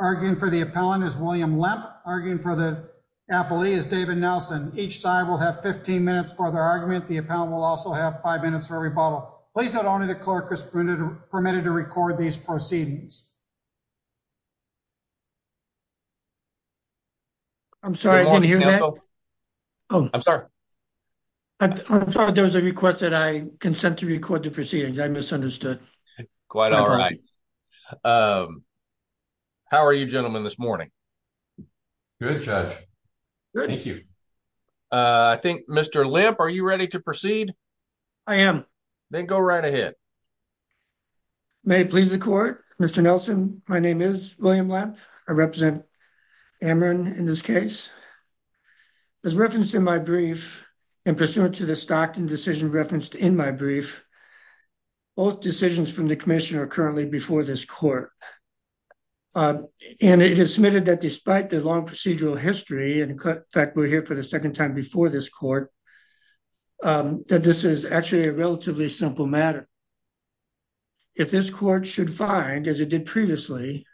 Arguing for the appellant is William Lemp. Arguing for the appellee is David Nelson. Each side will have 15 minutes for their argument. The appellant will also have five minutes for rebuttal. Please note only the clerk is permitted to record these proceedings. I'm sorry I didn't hear that. Oh I'm sorry. I'm sorry there was a request that I consent to record the proceedings. I misunderstood. Quite all right. How are you gentlemen this morning? Good judge. Thank you. I think Mr. Lemp are you ready to proceed? I am. Then go right ahead. May it please the court. Mr. Nelson my name is William Lemp. I represent Amarin in this case. As referenced in my brief and pursuant to the Stockton decision referenced in my brief both decisions from the commission are currently before this court. Um and it is submitted that despite the long procedural history and in fact we're here for the second time before this court um that this is actually a relatively simple matter. If this court should find as it did previously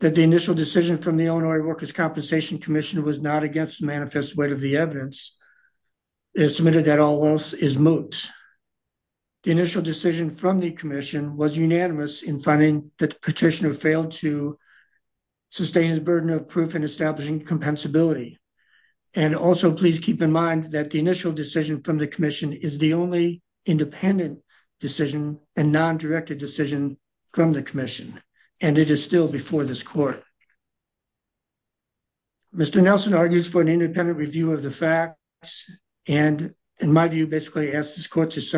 that the initial decision from the Illinois Workers' Compensation Commission was not against manifest weight of the evidence it is submitted that all else is moot. The initial decision from the commission was unanimous in that the petitioner failed to sustain his burden of proof in establishing compensability. And also please keep in mind that the initial decision from the commission is the only independent decision and non-directed decision from the commission and it is still before this court. Mr. Nelson argues for an independent review of the facts and in my view basically asked this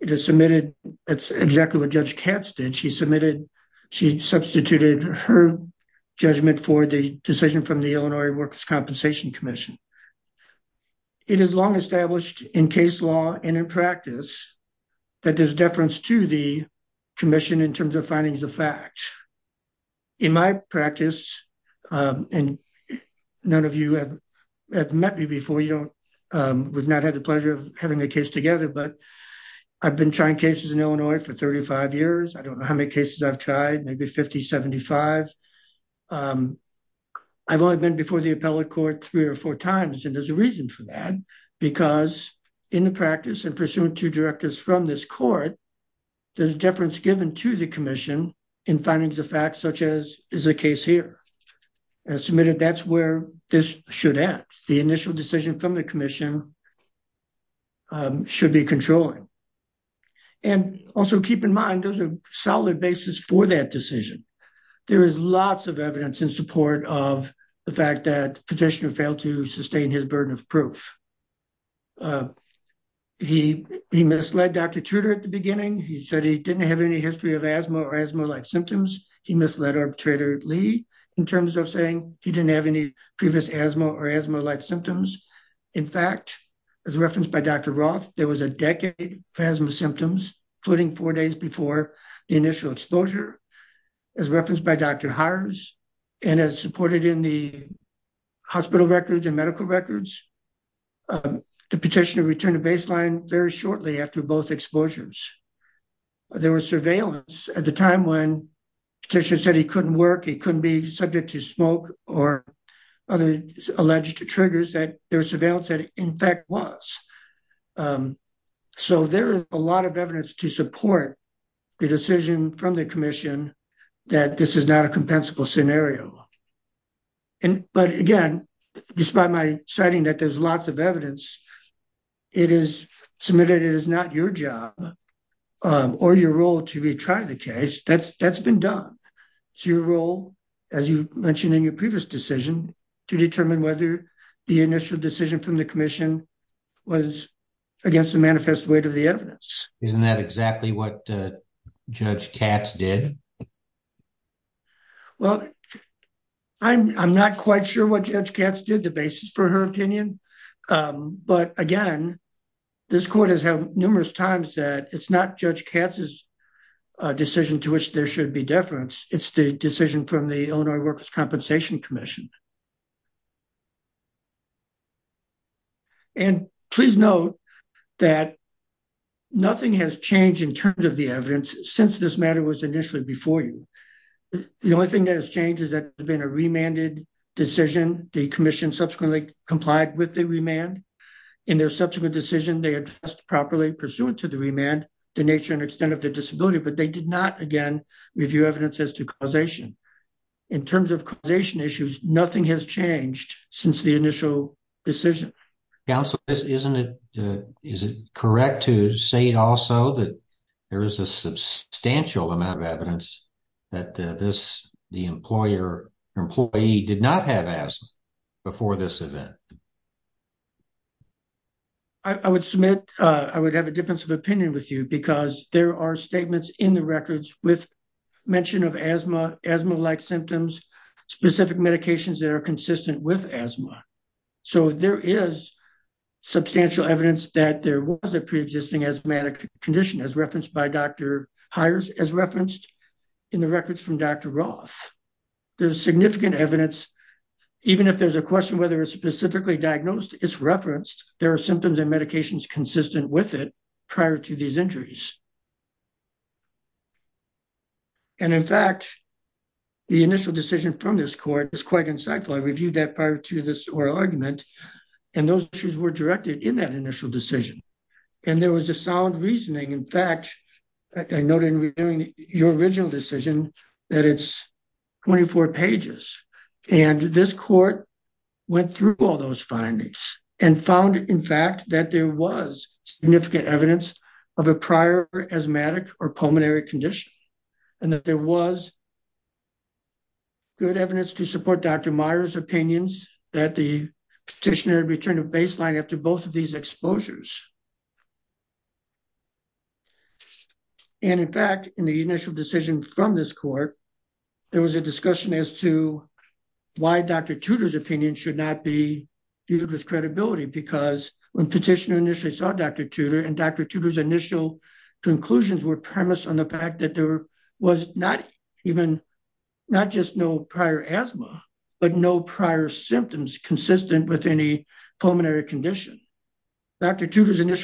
it is submitted that's exactly what Judge Katz did. She submitted she substituted her judgment for the decision from the Illinois Workers' Compensation Commission. It is long established in case law and in practice that there's deference to the commission in terms of findings of fact. In my practice um and none of you have met me before we've not had the pleasure of having a case together but I've been trying cases in Illinois for 35 years. I don't know how many cases I've tried maybe 50, 75. I've only been before the appellate court three or four times and there's a reason for that because in the practice and pursuant to directors from this court there's deference given to the commission in findings of fact such as is a case here. As submitted that's where this should end. The initial decision from the commission should be controlling and also keep in mind those are solid basis for that decision. There is lots of evidence in support of the fact that petitioner failed to sustain his burden of proof. He misled Dr. Tudor at the beginning. He said he didn't have any history of asthma or asthma-like symptoms. He misled arbitrator Lee in terms of saying he didn't have any previous asthma or asthma-like symptoms. In fact as referenced by Dr. Roth there was a decade for asthma symptoms including four days before the initial exposure. As referenced by Dr. Harris and as supported in the hospital records and medical records the petitioner returned to baseline very shortly after both exposures. There was surveillance at the time when petitioner said he couldn't work he couldn't be subject to smoke or other alleged triggers that there was surveillance that in fact was. So there is a lot of evidence to support the decision from the commission that this is not a compensable scenario. And but again despite my citing that there's lots of evidence it is submitted it is not your job or your role to retry the case that's that's been done. It's your role as you mentioned in your previous decision to determine whether the initial decision from the commission was against the manifest weight of the evidence. Isn't that exactly what Judge Katz did? Well I'm I'm not quite sure what Judge Katz did the basis for her opinion um but again this court has had numerous times that it's not Judge Katz's decision to which there should be deference it's the decision from the Illinois Workers' Compensation Commission. And please note that nothing has changed in terms of the evidence since this matter was initially before you. The only thing that has changed is that there's been a remanded the commission subsequently complied with the remand in their subsequent decision they addressed properly pursuant to the remand the nature and extent of the disability but they did not again review evidence as to causation. In terms of causation issues nothing has changed since the initial decision. Counsel isn't it is it correct to say also that there is a substantial amount of evidence that this the employer employee did not have asthma before this event? I would submit uh I would have a difference of opinion with you because there are statements in the records with mention of asthma asthma-like symptoms specific medications that are consistent with asthma. So there is substantial evidence that there was a pre-existing asthmatic condition as referenced by Dr. Hires as referenced in the records from Dr. Roth. There's significant evidence even if there's a question whether it's specifically diagnosed it's referenced there are symptoms and medications consistent with it prior to these injuries. And in fact the initial decision from this court is quite insightful I reviewed that prior to this oral argument and those issues were directed in that initial decision and there was a sound reasoning in fact I noted in reviewing your original decision that it's 24 pages and this court went through all those findings and found in fact that there was significant evidence of a prior asthmatic or pulmonary condition and that there was good evidence to support Dr. Myers opinions that the petitioner returned a baseline after both of these exposures. And in fact in the initial decision from this court there was a discussion as to why Dr. Tudor's opinion should not be viewed with credibility because when petitioner initially saw Dr. Tudor and Dr. Tudor's initial conclusions were premised on the fact that there was not even not just no prior asthma but no prior symptoms consistent with any pulmonary condition. Dr. Myers did not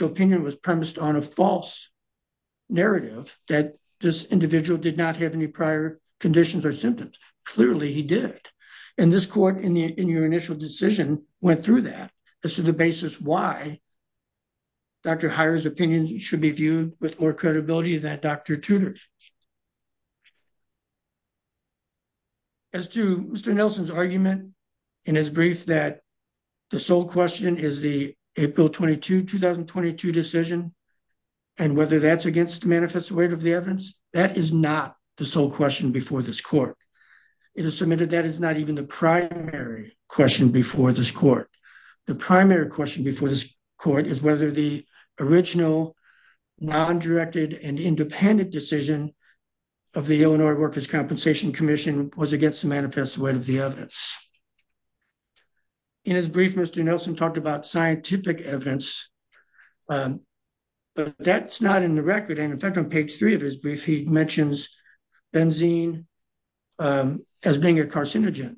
have any prior conditions or symptoms clearly he did and this court in the in your initial decision went through that as to the basis why Dr. Myers opinion should be viewed with more credibility than Dr. Tudor. As to Mr. Nelson's argument in his brief that the sole question is the April 22 2022 decision and whether that's against the manifest weight of the evidence that is not the sole question before this court. It is submitted that is not even the primary question before this court. The primary question before this court is whether the original non-directed and independent decision of the Illinois Workers Compensation Commission was against the manifest weight of the evidence. In his brief Mr. Nelson talked about scientific evidence but that's not in the record and in fact on page three of his brief he mentions benzene as being a carcinogen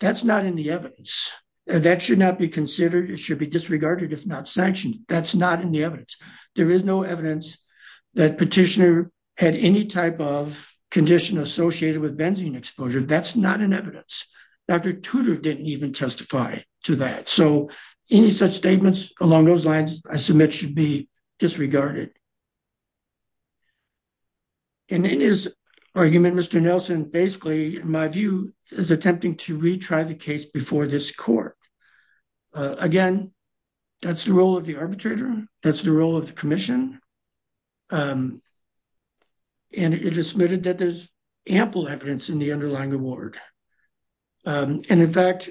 that's not in the evidence that should not be considered it should be disregarded if not sanctioned that's not in the evidence there is no evidence that petitioner had any type of condition associated with benzene exposure that's not in evidence Dr. Tudor didn't even testify to that so any such statements along those lines I submit should be disregarded. And in his argument Mr. Nelson basically in my view is attempting to retry the case before this court again that's the role of the arbitrator that's the role of the commission and it is submitted that there's ample evidence in the underlying award and in fact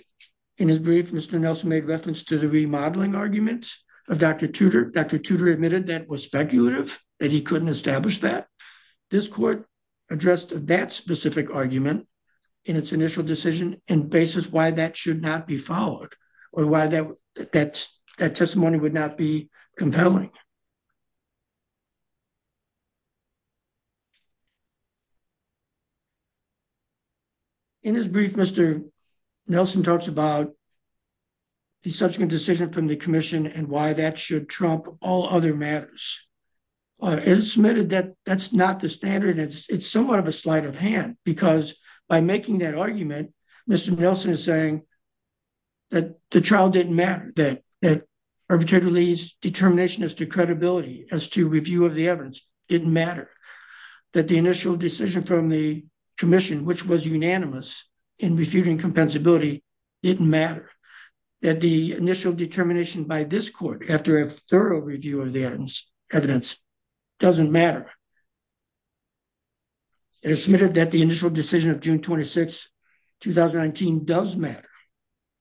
in his brief Mr. Nelson made reference to the remodeling arguments of Dr. Tudor. Dr. Tudor admitted that was speculative that he couldn't establish that this court addressed that specific argument in its initial decision and basis why that should not be followed or why that that that testimony would not be compelling. In his brief Mr. Nelson talks about the subsequent decision from the commission and why that should trump all other matters. It is submitted that that's not the standard it's it's somewhat of a sleight of hand because by making that argument Mr. Nelson is saying that the trial didn't matter that that arbitrator Lee's determination as to credibility as to review of the evidence didn't matter that the initial decision from the commission which was unanimous in refuting compensability didn't matter that the initial determination by this court after a thorough review of the evidence evidence doesn't matter. It is submitted that the initial decision of June 26 2019 does matter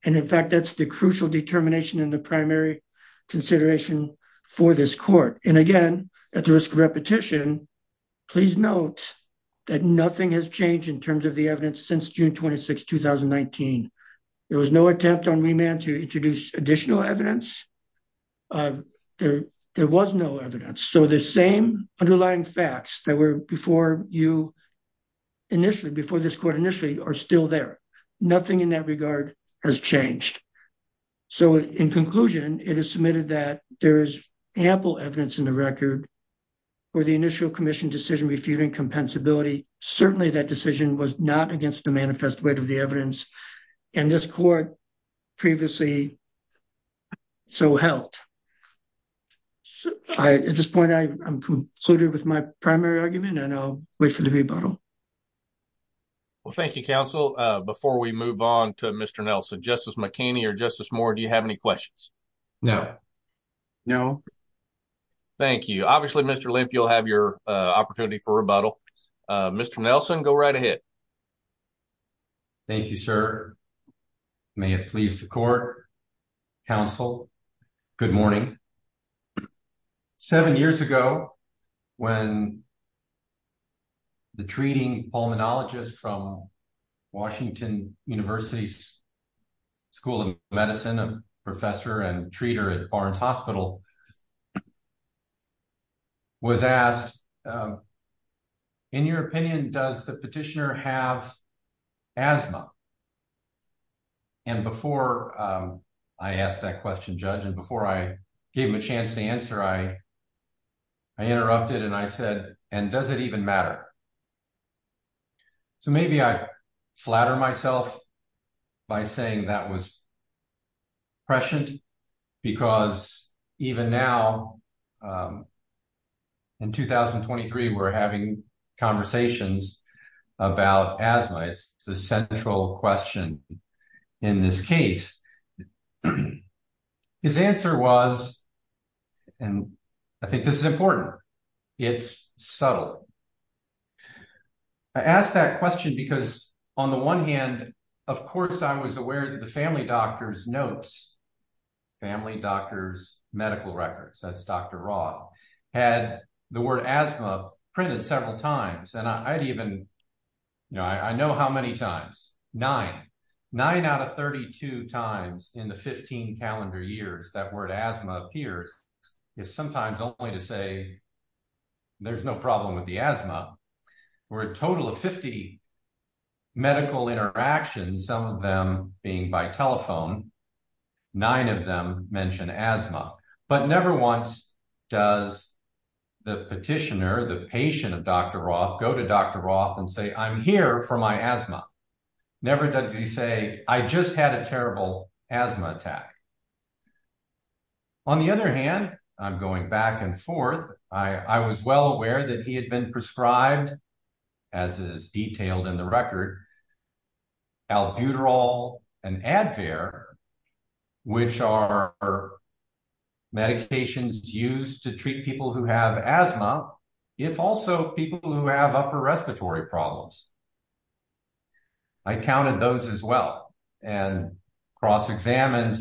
and in fact that's the crucial determination in the primary consideration for this court and again at the risk of repetition please note that nothing has changed in terms of the evidence since June 26 2019. There was no attempt on remand to introduce additional evidence uh there there was no evidence so the same underlying facts that were before you initially before this court initially are still there nothing in that regard has changed so in conclusion it is submitted that there is ample evidence in the record for the initial commission decision refuting compensability certainly that decision was not against the manifest weight of the evidence and this court previously so helped I at this point I'm concluded with my primary argument and I'll wait for the rebuttal well thank you counsel uh before we move on to Mr. Nelson Justice McKinney or Justice Moore do you have any questions no no thank you obviously Mr. Lemp you'll have your opportunity for rebuttal uh Mr. Nelson go right ahead thank you sir may it please the court counsel good morning seven years ago when the treating pulmonologist from Washington University School of Medicine a professor and treater at Barnes Hospital was asked in your opinion does the petitioner have asthma and before I asked that question judge and before I gave him a chance to answer I I interrupted and I said and does it even matter so maybe I flatter myself by saying that was prescient because even now um in 2023 we're having conversations about asthma it's the central question in this case his answer was and I think this is important it's subtle I asked that question because on the one hand of course I was aware that the family doctor's notes family doctor's medical records that's Dr. Raw had the word asthma printed several times and I'd even you know I know how many times nine nine out of 32 times in the 15 calendar years that word asthma appears if sometimes only to say there's no problem with the asthma or a total of 50 medical interactions some of them being by telephone nine of them mention asthma but never once does the petitioner the patient of Dr. Roth go to Dr. Roth and say I'm here for my asthma never does he say I just had a terrible asthma attack on the other hand I'm going back and forth I I was well aware that he had been prescribed as is detailed in the record albuterol and advair which are medications used to treat people who have asthma if also people who have upper respiratory problems I counted those as well and cross-examined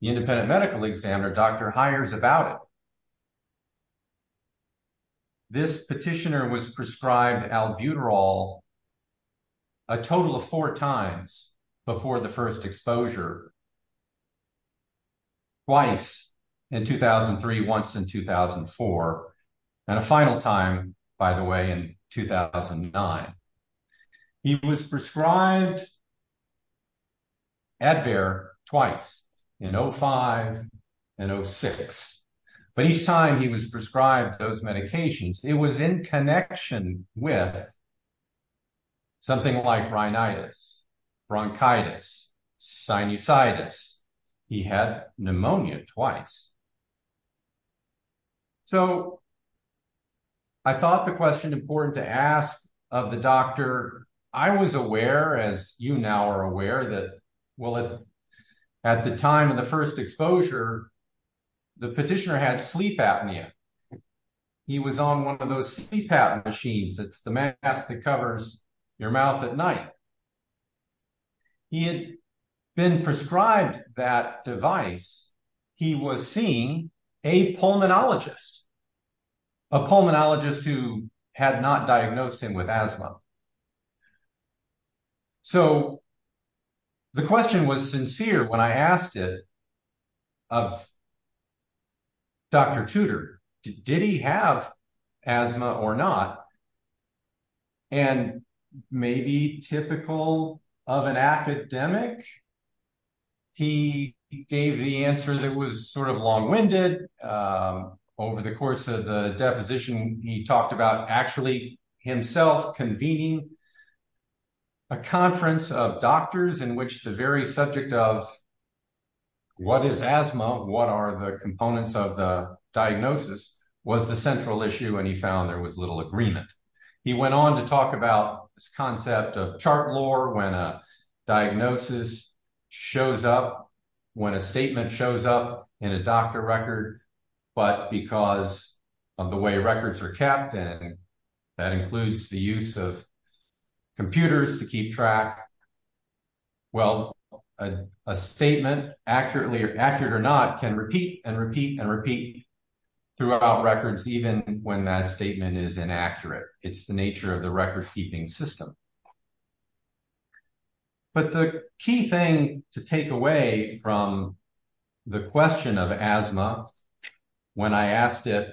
the independent medical examiner Dr. Hyers about it this petitioner was prescribed albuterol a total of four times before the first exposure twice in 2003 once in 2004 and a final time by the way in 2009 he was prescribed advair twice in 05 and 06 but each time he was prescribed those medications it was in connection with something like rhinitis bronchitis sinusitis he had pneumonia twice so I thought the question important to ask of the doctor I was aware as you now are aware that well at the time of the first exposure the petitioner had sleep apnea he was on one of those sleep apnea machines it's the mask that covers your mouth at night he had been prescribed that device he was seeing a pulmonologist a pulmonologist who had not diagnosed him with asthma so the question was sincere when I asked it of Dr. Tudor did he have asthma or not and maybe typical of an academic he gave the answer that was sort of long-winded over the course of the deposition he talked about actually himself convening a conference of doctors in which the very subject of what is asthma what are the components of the he went on to talk about this concept of chart lore when a diagnosis shows up when a statement shows up in a doctor record but because of the way records are capped and that includes the use of computers to keep track well a statement accurately or accurate or not can repeat and it's the nature of the record keeping system but the key thing to take away from the question of asthma when I asked it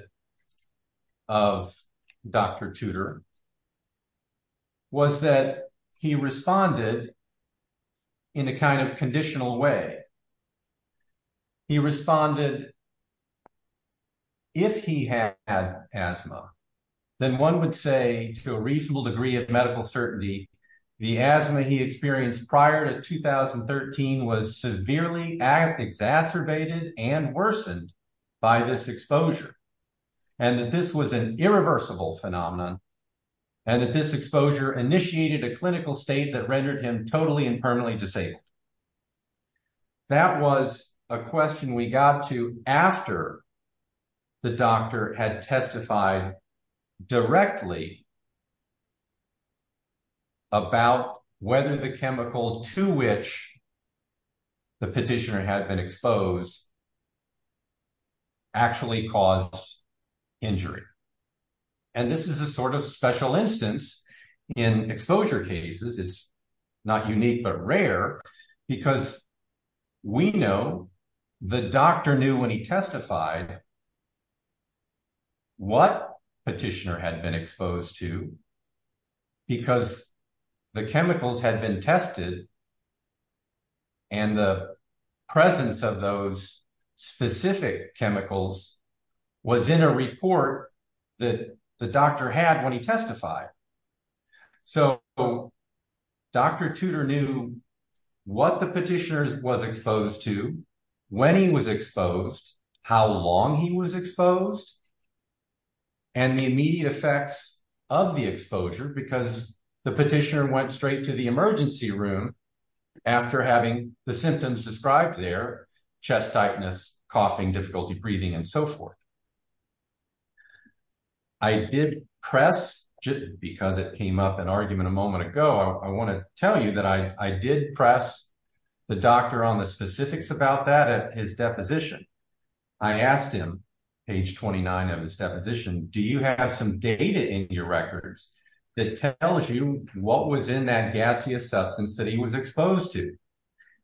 of Dr. Tudor was that he responded in a kind of conditional way he responded if he had asthma then one would say to a reasonable degree of medical certainty the asthma he experienced prior to 2013 was severely exacerbated and worsened by this exposure and that this was an irreversible phenomenon and that this exposure initiated a clinical state rendered him totally and permanently disabled that was a question we got to after the doctor had testified directly about whether the chemical to which the petitioner had been exposed actually caused injury and this is a sort of special instance in exposure cases it's not unique but rare because we know the doctor knew when he testified what petitioner had been exposed to because the chemicals had been tested and the presence of those specific chemicals was in a report that the doctor had when he testified so Dr. Tudor knew what the petitioner was exposed to when he was exposed how long he was exposed and the immediate effects of the exposure because the petitioner went straight to the emergency room after having the symptoms described there chest tightness coughing difficulty breathing and so forth I did press because it came up an argument a moment ago I want to tell you that I did press the doctor on the specifics about that at his deposition I asked him page 29 of his deposition do you have some data in your records that tells you what was in that gaseous substance that he was exposed to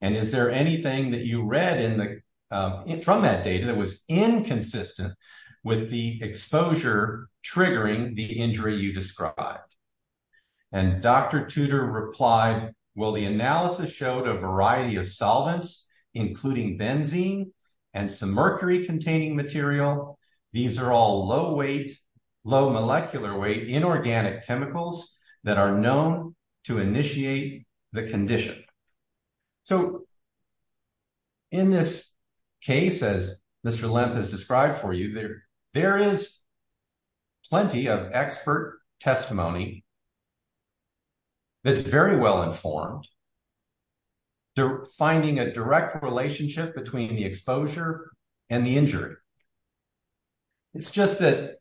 and is there anything that you read in the from that data that was inconsistent with the exposure triggering the injury you described and Dr. Tudor replied well the analysis showed a variety of solvents including benzene and some mercury containing material these are all low low molecular weight inorganic chemicals that are known to initiate the condition so in this case as Mr. Lemp has described for you there there is plenty of expert testimony that's very well informed they're finding a direct relationship between the exposure and the injury it's just that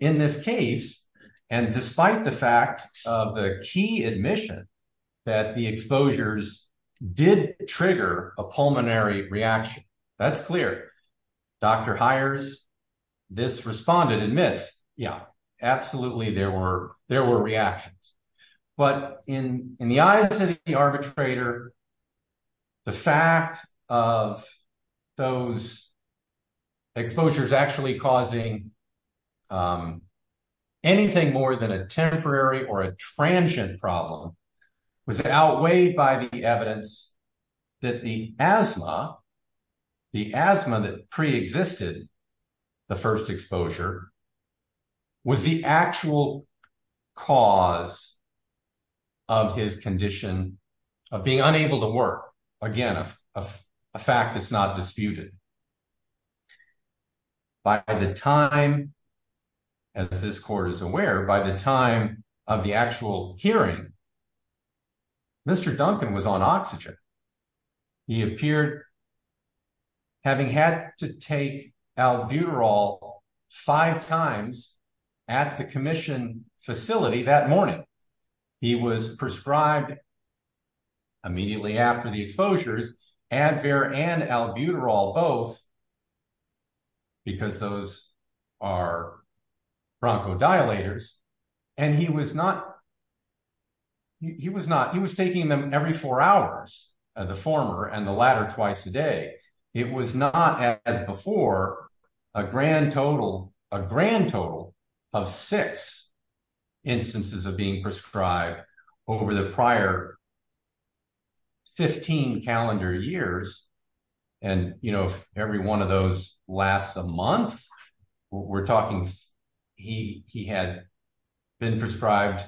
in this case and despite the fact of the key admission that the exposures did trigger a pulmonary reaction that's clear Dr. Hyers this responded admits yeah absolutely there were there were reactions but in in the eyes of the arbitrator the fact of those exposures actually causing anything more than a temporary or a transient problem was outweighed by the evidence that the asthma the asthma that pre-existed the first exposure was the actual cause of his condition of being unable to work again a fact that's not disputed by the time as this court is aware by the time of the actual hearing Mr. Duncan was on oxygen he appeared having had to take albuterol five times at the commission facility that morning he was prescribed immediately after the exposures Advair and albuterol both because those are bronchodilators and he was not he was not he was taking them every four hours the former and the latter twice a day it was not as before a grand total a grand total of six instances of being prescribed over the prior 15 calendar years and you know every one of those lasts a month we're talking he he had been prescribed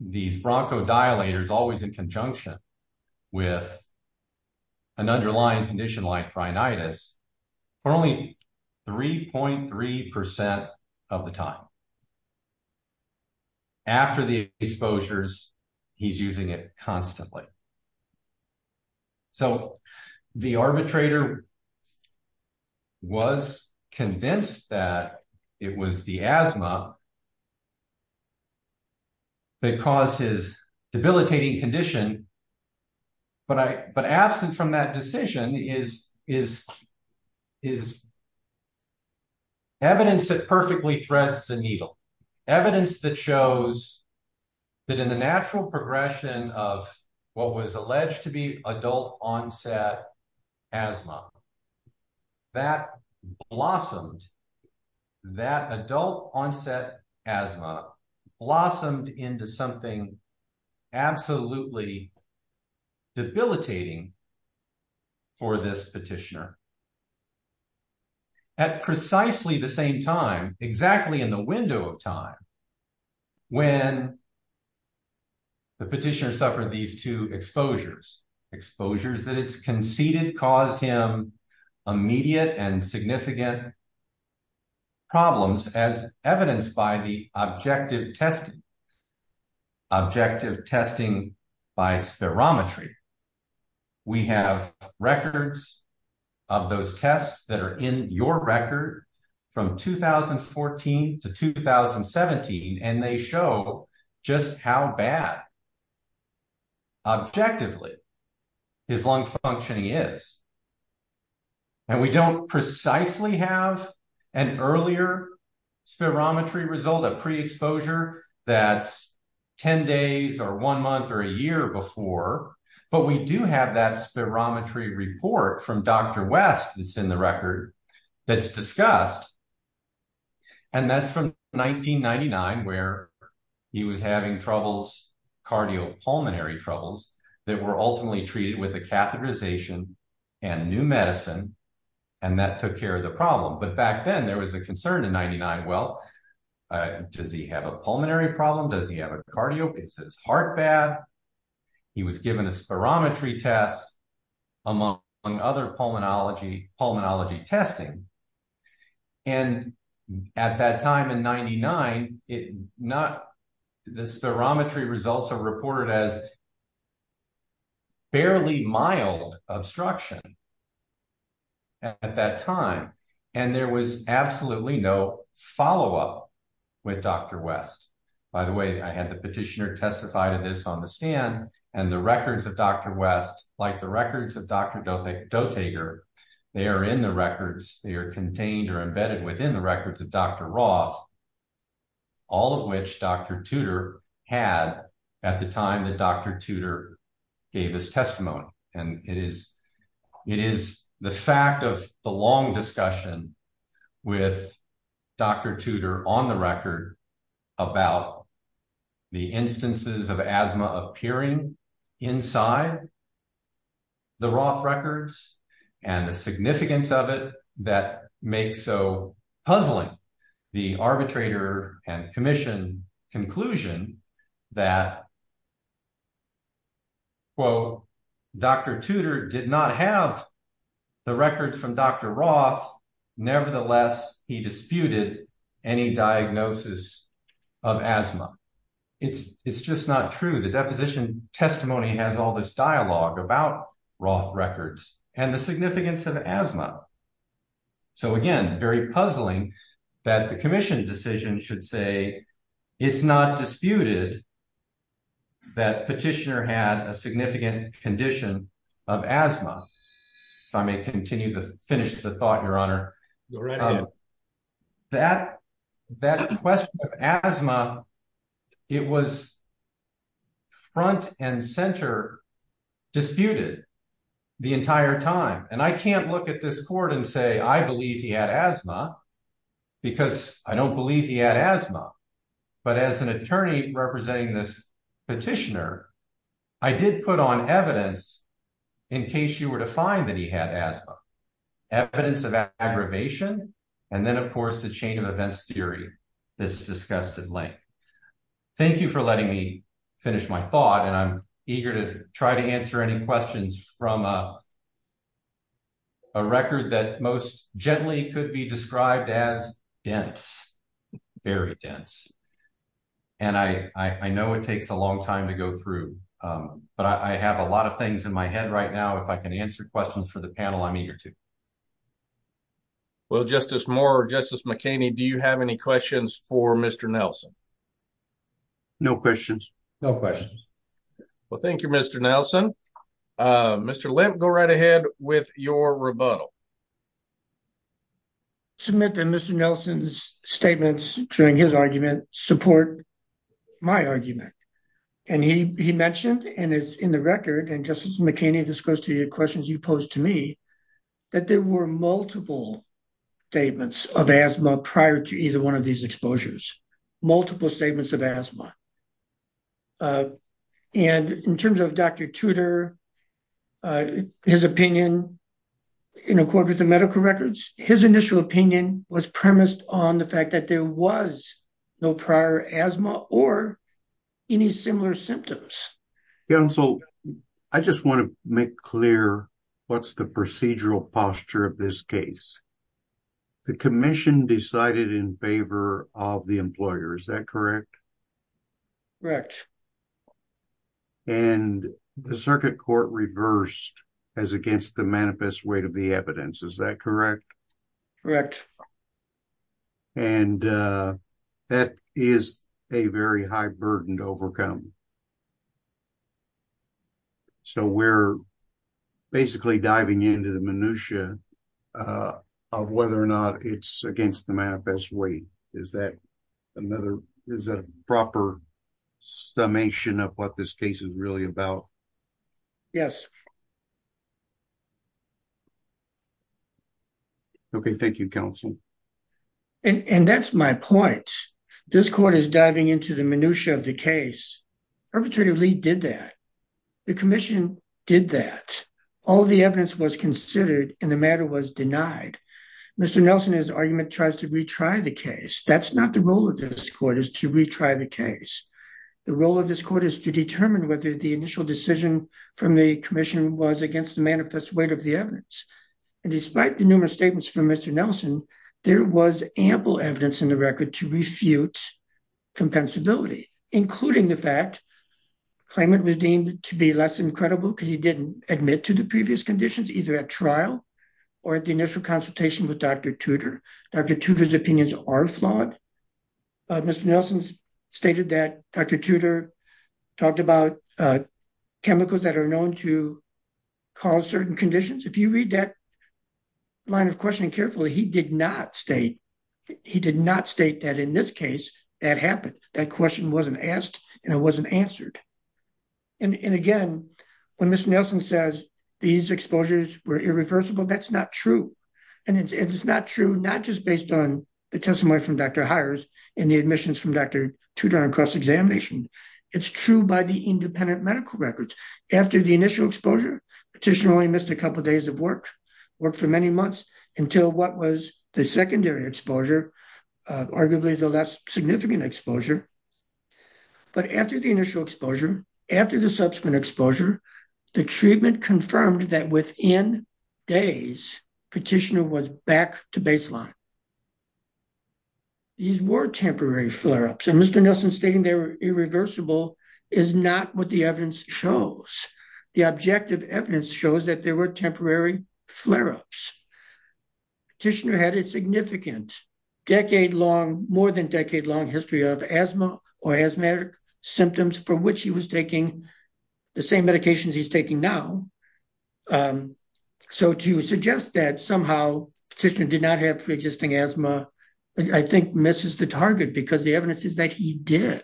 these bronchodilators always in conjunction with an underlying condition like rhinitis for only 3.3 percent of the time after the exposures he's using it constantly so the arbitrator was convinced that it was the asthma because his debilitating condition but i but absent from that decision is is is evidence that perfectly threads the needle evidence that shows that in the natural progression of what was alleged to be adult onset asthma that blossomed that adult onset asthma blossomed into something absolutely debilitating for this petitioner at precisely the same time exactly in the window of time when the petitioner suffered these two exposures exposures that it's conceded caused him immediate and significant problems as evidence by objective testing objective testing by spirometry we have records of those tests that are in your record from 2014 to 2017 and they show just how bad objectively his lung functioning is and we don't precisely have an earlier spirometry result of pre-exposure that's 10 days or one month or a year before but we do have that spirometry report from Dr. West that's in the record that's discussed and that's from 1999 where he was having troubles cardiopulmonary troubles that were new medicine and that took care of the problem but back then there was a concern in 99 well does he have a pulmonary problem does he have a cardio it says heart bad he was given a spirometry test among other pulmonology pulmonology testing and at that time in 99 it not the spirometry results are reported as barely mild obstruction at that time and there was absolutely no follow-up with Dr. West by the way I had the petitioner testify to this on the stand and the records of Dr. West like the records of Dr. Dotaker they are in the records they are contained or embedded in the records of Dr. Roth all of which Dr. Tudor had at the time that Dr. Tudor gave his testimony and it is it is the fact of the long discussion with Dr. Tudor on the record about the instances of asthma appearing inside the Roth records and the significance of it that makes so puzzling the arbitrator and commission conclusion that quote Dr. Tudor did not have the records from Dr. Roth nevertheless he disputed any diagnosis of asthma it's it's just not true the deposition testimony has all this dialogue about Roth records and the significance of asthma so again very puzzling that the commission decision should say it's not disputed that petitioner had a significant condition of asthma so I may continue to finish the thought your honor that that question of asthma it was front and center disputed the entire time and I can't look at this court and say I believe he had asthma because I don't believe he had asthma but as an attorney representing this petitioner I did put on evidence in case you were to find that he had asthma evidence of aggravation and then of course the chain of events theory that's discussed in length thank you for letting me finish my thought and I'm I'm going to end with a record that most gently could be described as dense very dense and I I know it takes a long time to go through but I have a lot of things in my head right now if I can answer questions for the panel I'm eager to well justice Moore justice McKinney do you have any questions for Mr. Nelson no questions no questions well thank you Mr. Nelson uh Mr. Lent go right ahead with your rebuttal submit that Mr. Nelson's statements during his argument support my argument and he he mentioned and it's in the record and justice McKinney this goes to your questions you posed to me that there were multiple statements of asthma prior to either one of these exposures multiple statements of asthma and in terms of Dr. Tudor his opinion in accord with the medical records his initial opinion was premised on the fact that there was no prior asthma or any similar symptoms yeah so I just want to make clear what's the procedural posture of this case the commission decided in favor of the employer is that correct correct and the circuit court reversed as against the manifest weight of the evidence is that correct correct and uh that is a very high burden to overcome so we're basically diving into the minutiae uh of whether or not it's against the manifest way is that another is that a proper summation of what this case is really about yes okay thank you counsel and and that's my point this court is diving into the minutiae of the case arbitrarily did that the commission did that all the evidence was considered and the matter was denied Mr. Nelson his argument tries to retry the case that's not the role of this court is to retry the case the role of this court is to determine whether the initial decision from the commission was against the manifest weight of the evidence and despite the numerous statements from Mr. Nelson there was ample evidence in the record to refute compensability including the fact claimant was deemed to be less than credible because he didn't admit to the previous conditions either at trial or at the initial consultation with Dr. Tudor Dr. Tudor's opinions are flawed Mr. Nelson stated that Dr. Tudor talked about chemicals that are known to cause certain conditions if you read that line of questioning carefully he did not state he did not state that in this case that happened that question wasn't asked and it wasn't answered and and again when Mr. Nelson says these exposures were irreversible that's not true and it's it's not true not just based on the testimony from Dr. Hires and the admissions from Dr. Tudor on cross-examination it's true by the independent medical records after the initial exposure petitioner only missed a couple days of work work for many months until what was the secondary exposure arguably the less significant exposure but after the initial exposure after the subsequent exposure the treatment confirmed that within days petitioner was back to baseline these were temporary flare-ups and Mr. Nelson stating they were irreversible is not what the evidence shows the objective evidence shows that there were temporary flare-ups petitioner had a significant decade-long more than decade-long history of asthma or asthmatic symptoms for which he was taking the same medications he's taking now um so to suggest that somehow petitioner did not have pre-existing asthma I think misses the target because the evidence is that he did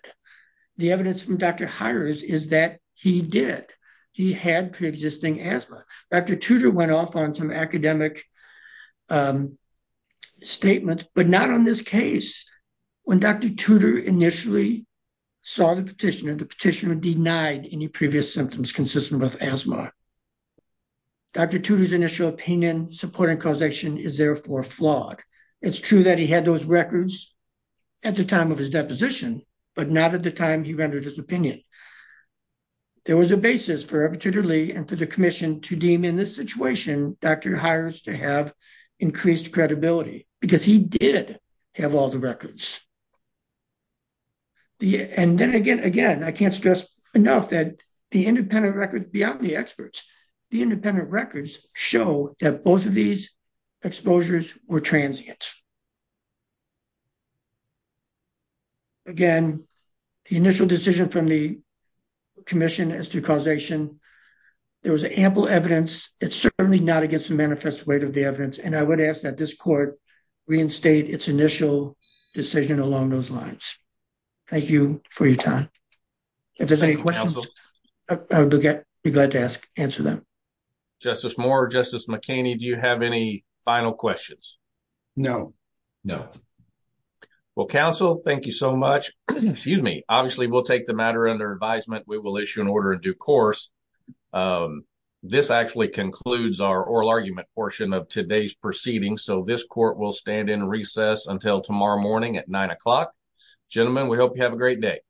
the evidence from Dr. Hires is that he did he had pre-existing asthma Dr. Tudor went off on some academic um statements but not on this case when Dr. Tudor initially saw the petitioner the petitioner denied any previous symptoms consistent with asthma Dr. Tudor's initial opinion supporting causation is therefore flawed it's true that he had those records at the time of his deposition but not at the time he rendered his opinion there was a basis for Rep. Tudor Lee and for the commission to deem in this situation Dr. Hires to have increased credibility because he did have all the records and then again again I can't stress enough that the independent records beyond the experts the independent records show that both of these exposures were transient again the initial decision from the commission as to causation there was ample evidence it's certainly not against the manifest weight of the evidence and I would ask that this court reinstate its initial decision along those lines thank you for your time if there's any questions I'll be glad to ask answer them justice more justice mckinney do you have any final questions no no well counsel thank you so much excuse me obviously we'll take the matter under advisement we will issue an order in due course um this actually concludes our oral argument portion of today's proceeding so this court will stand in recess until tomorrow morning at nine o'clock gentlemen we hope you have a great day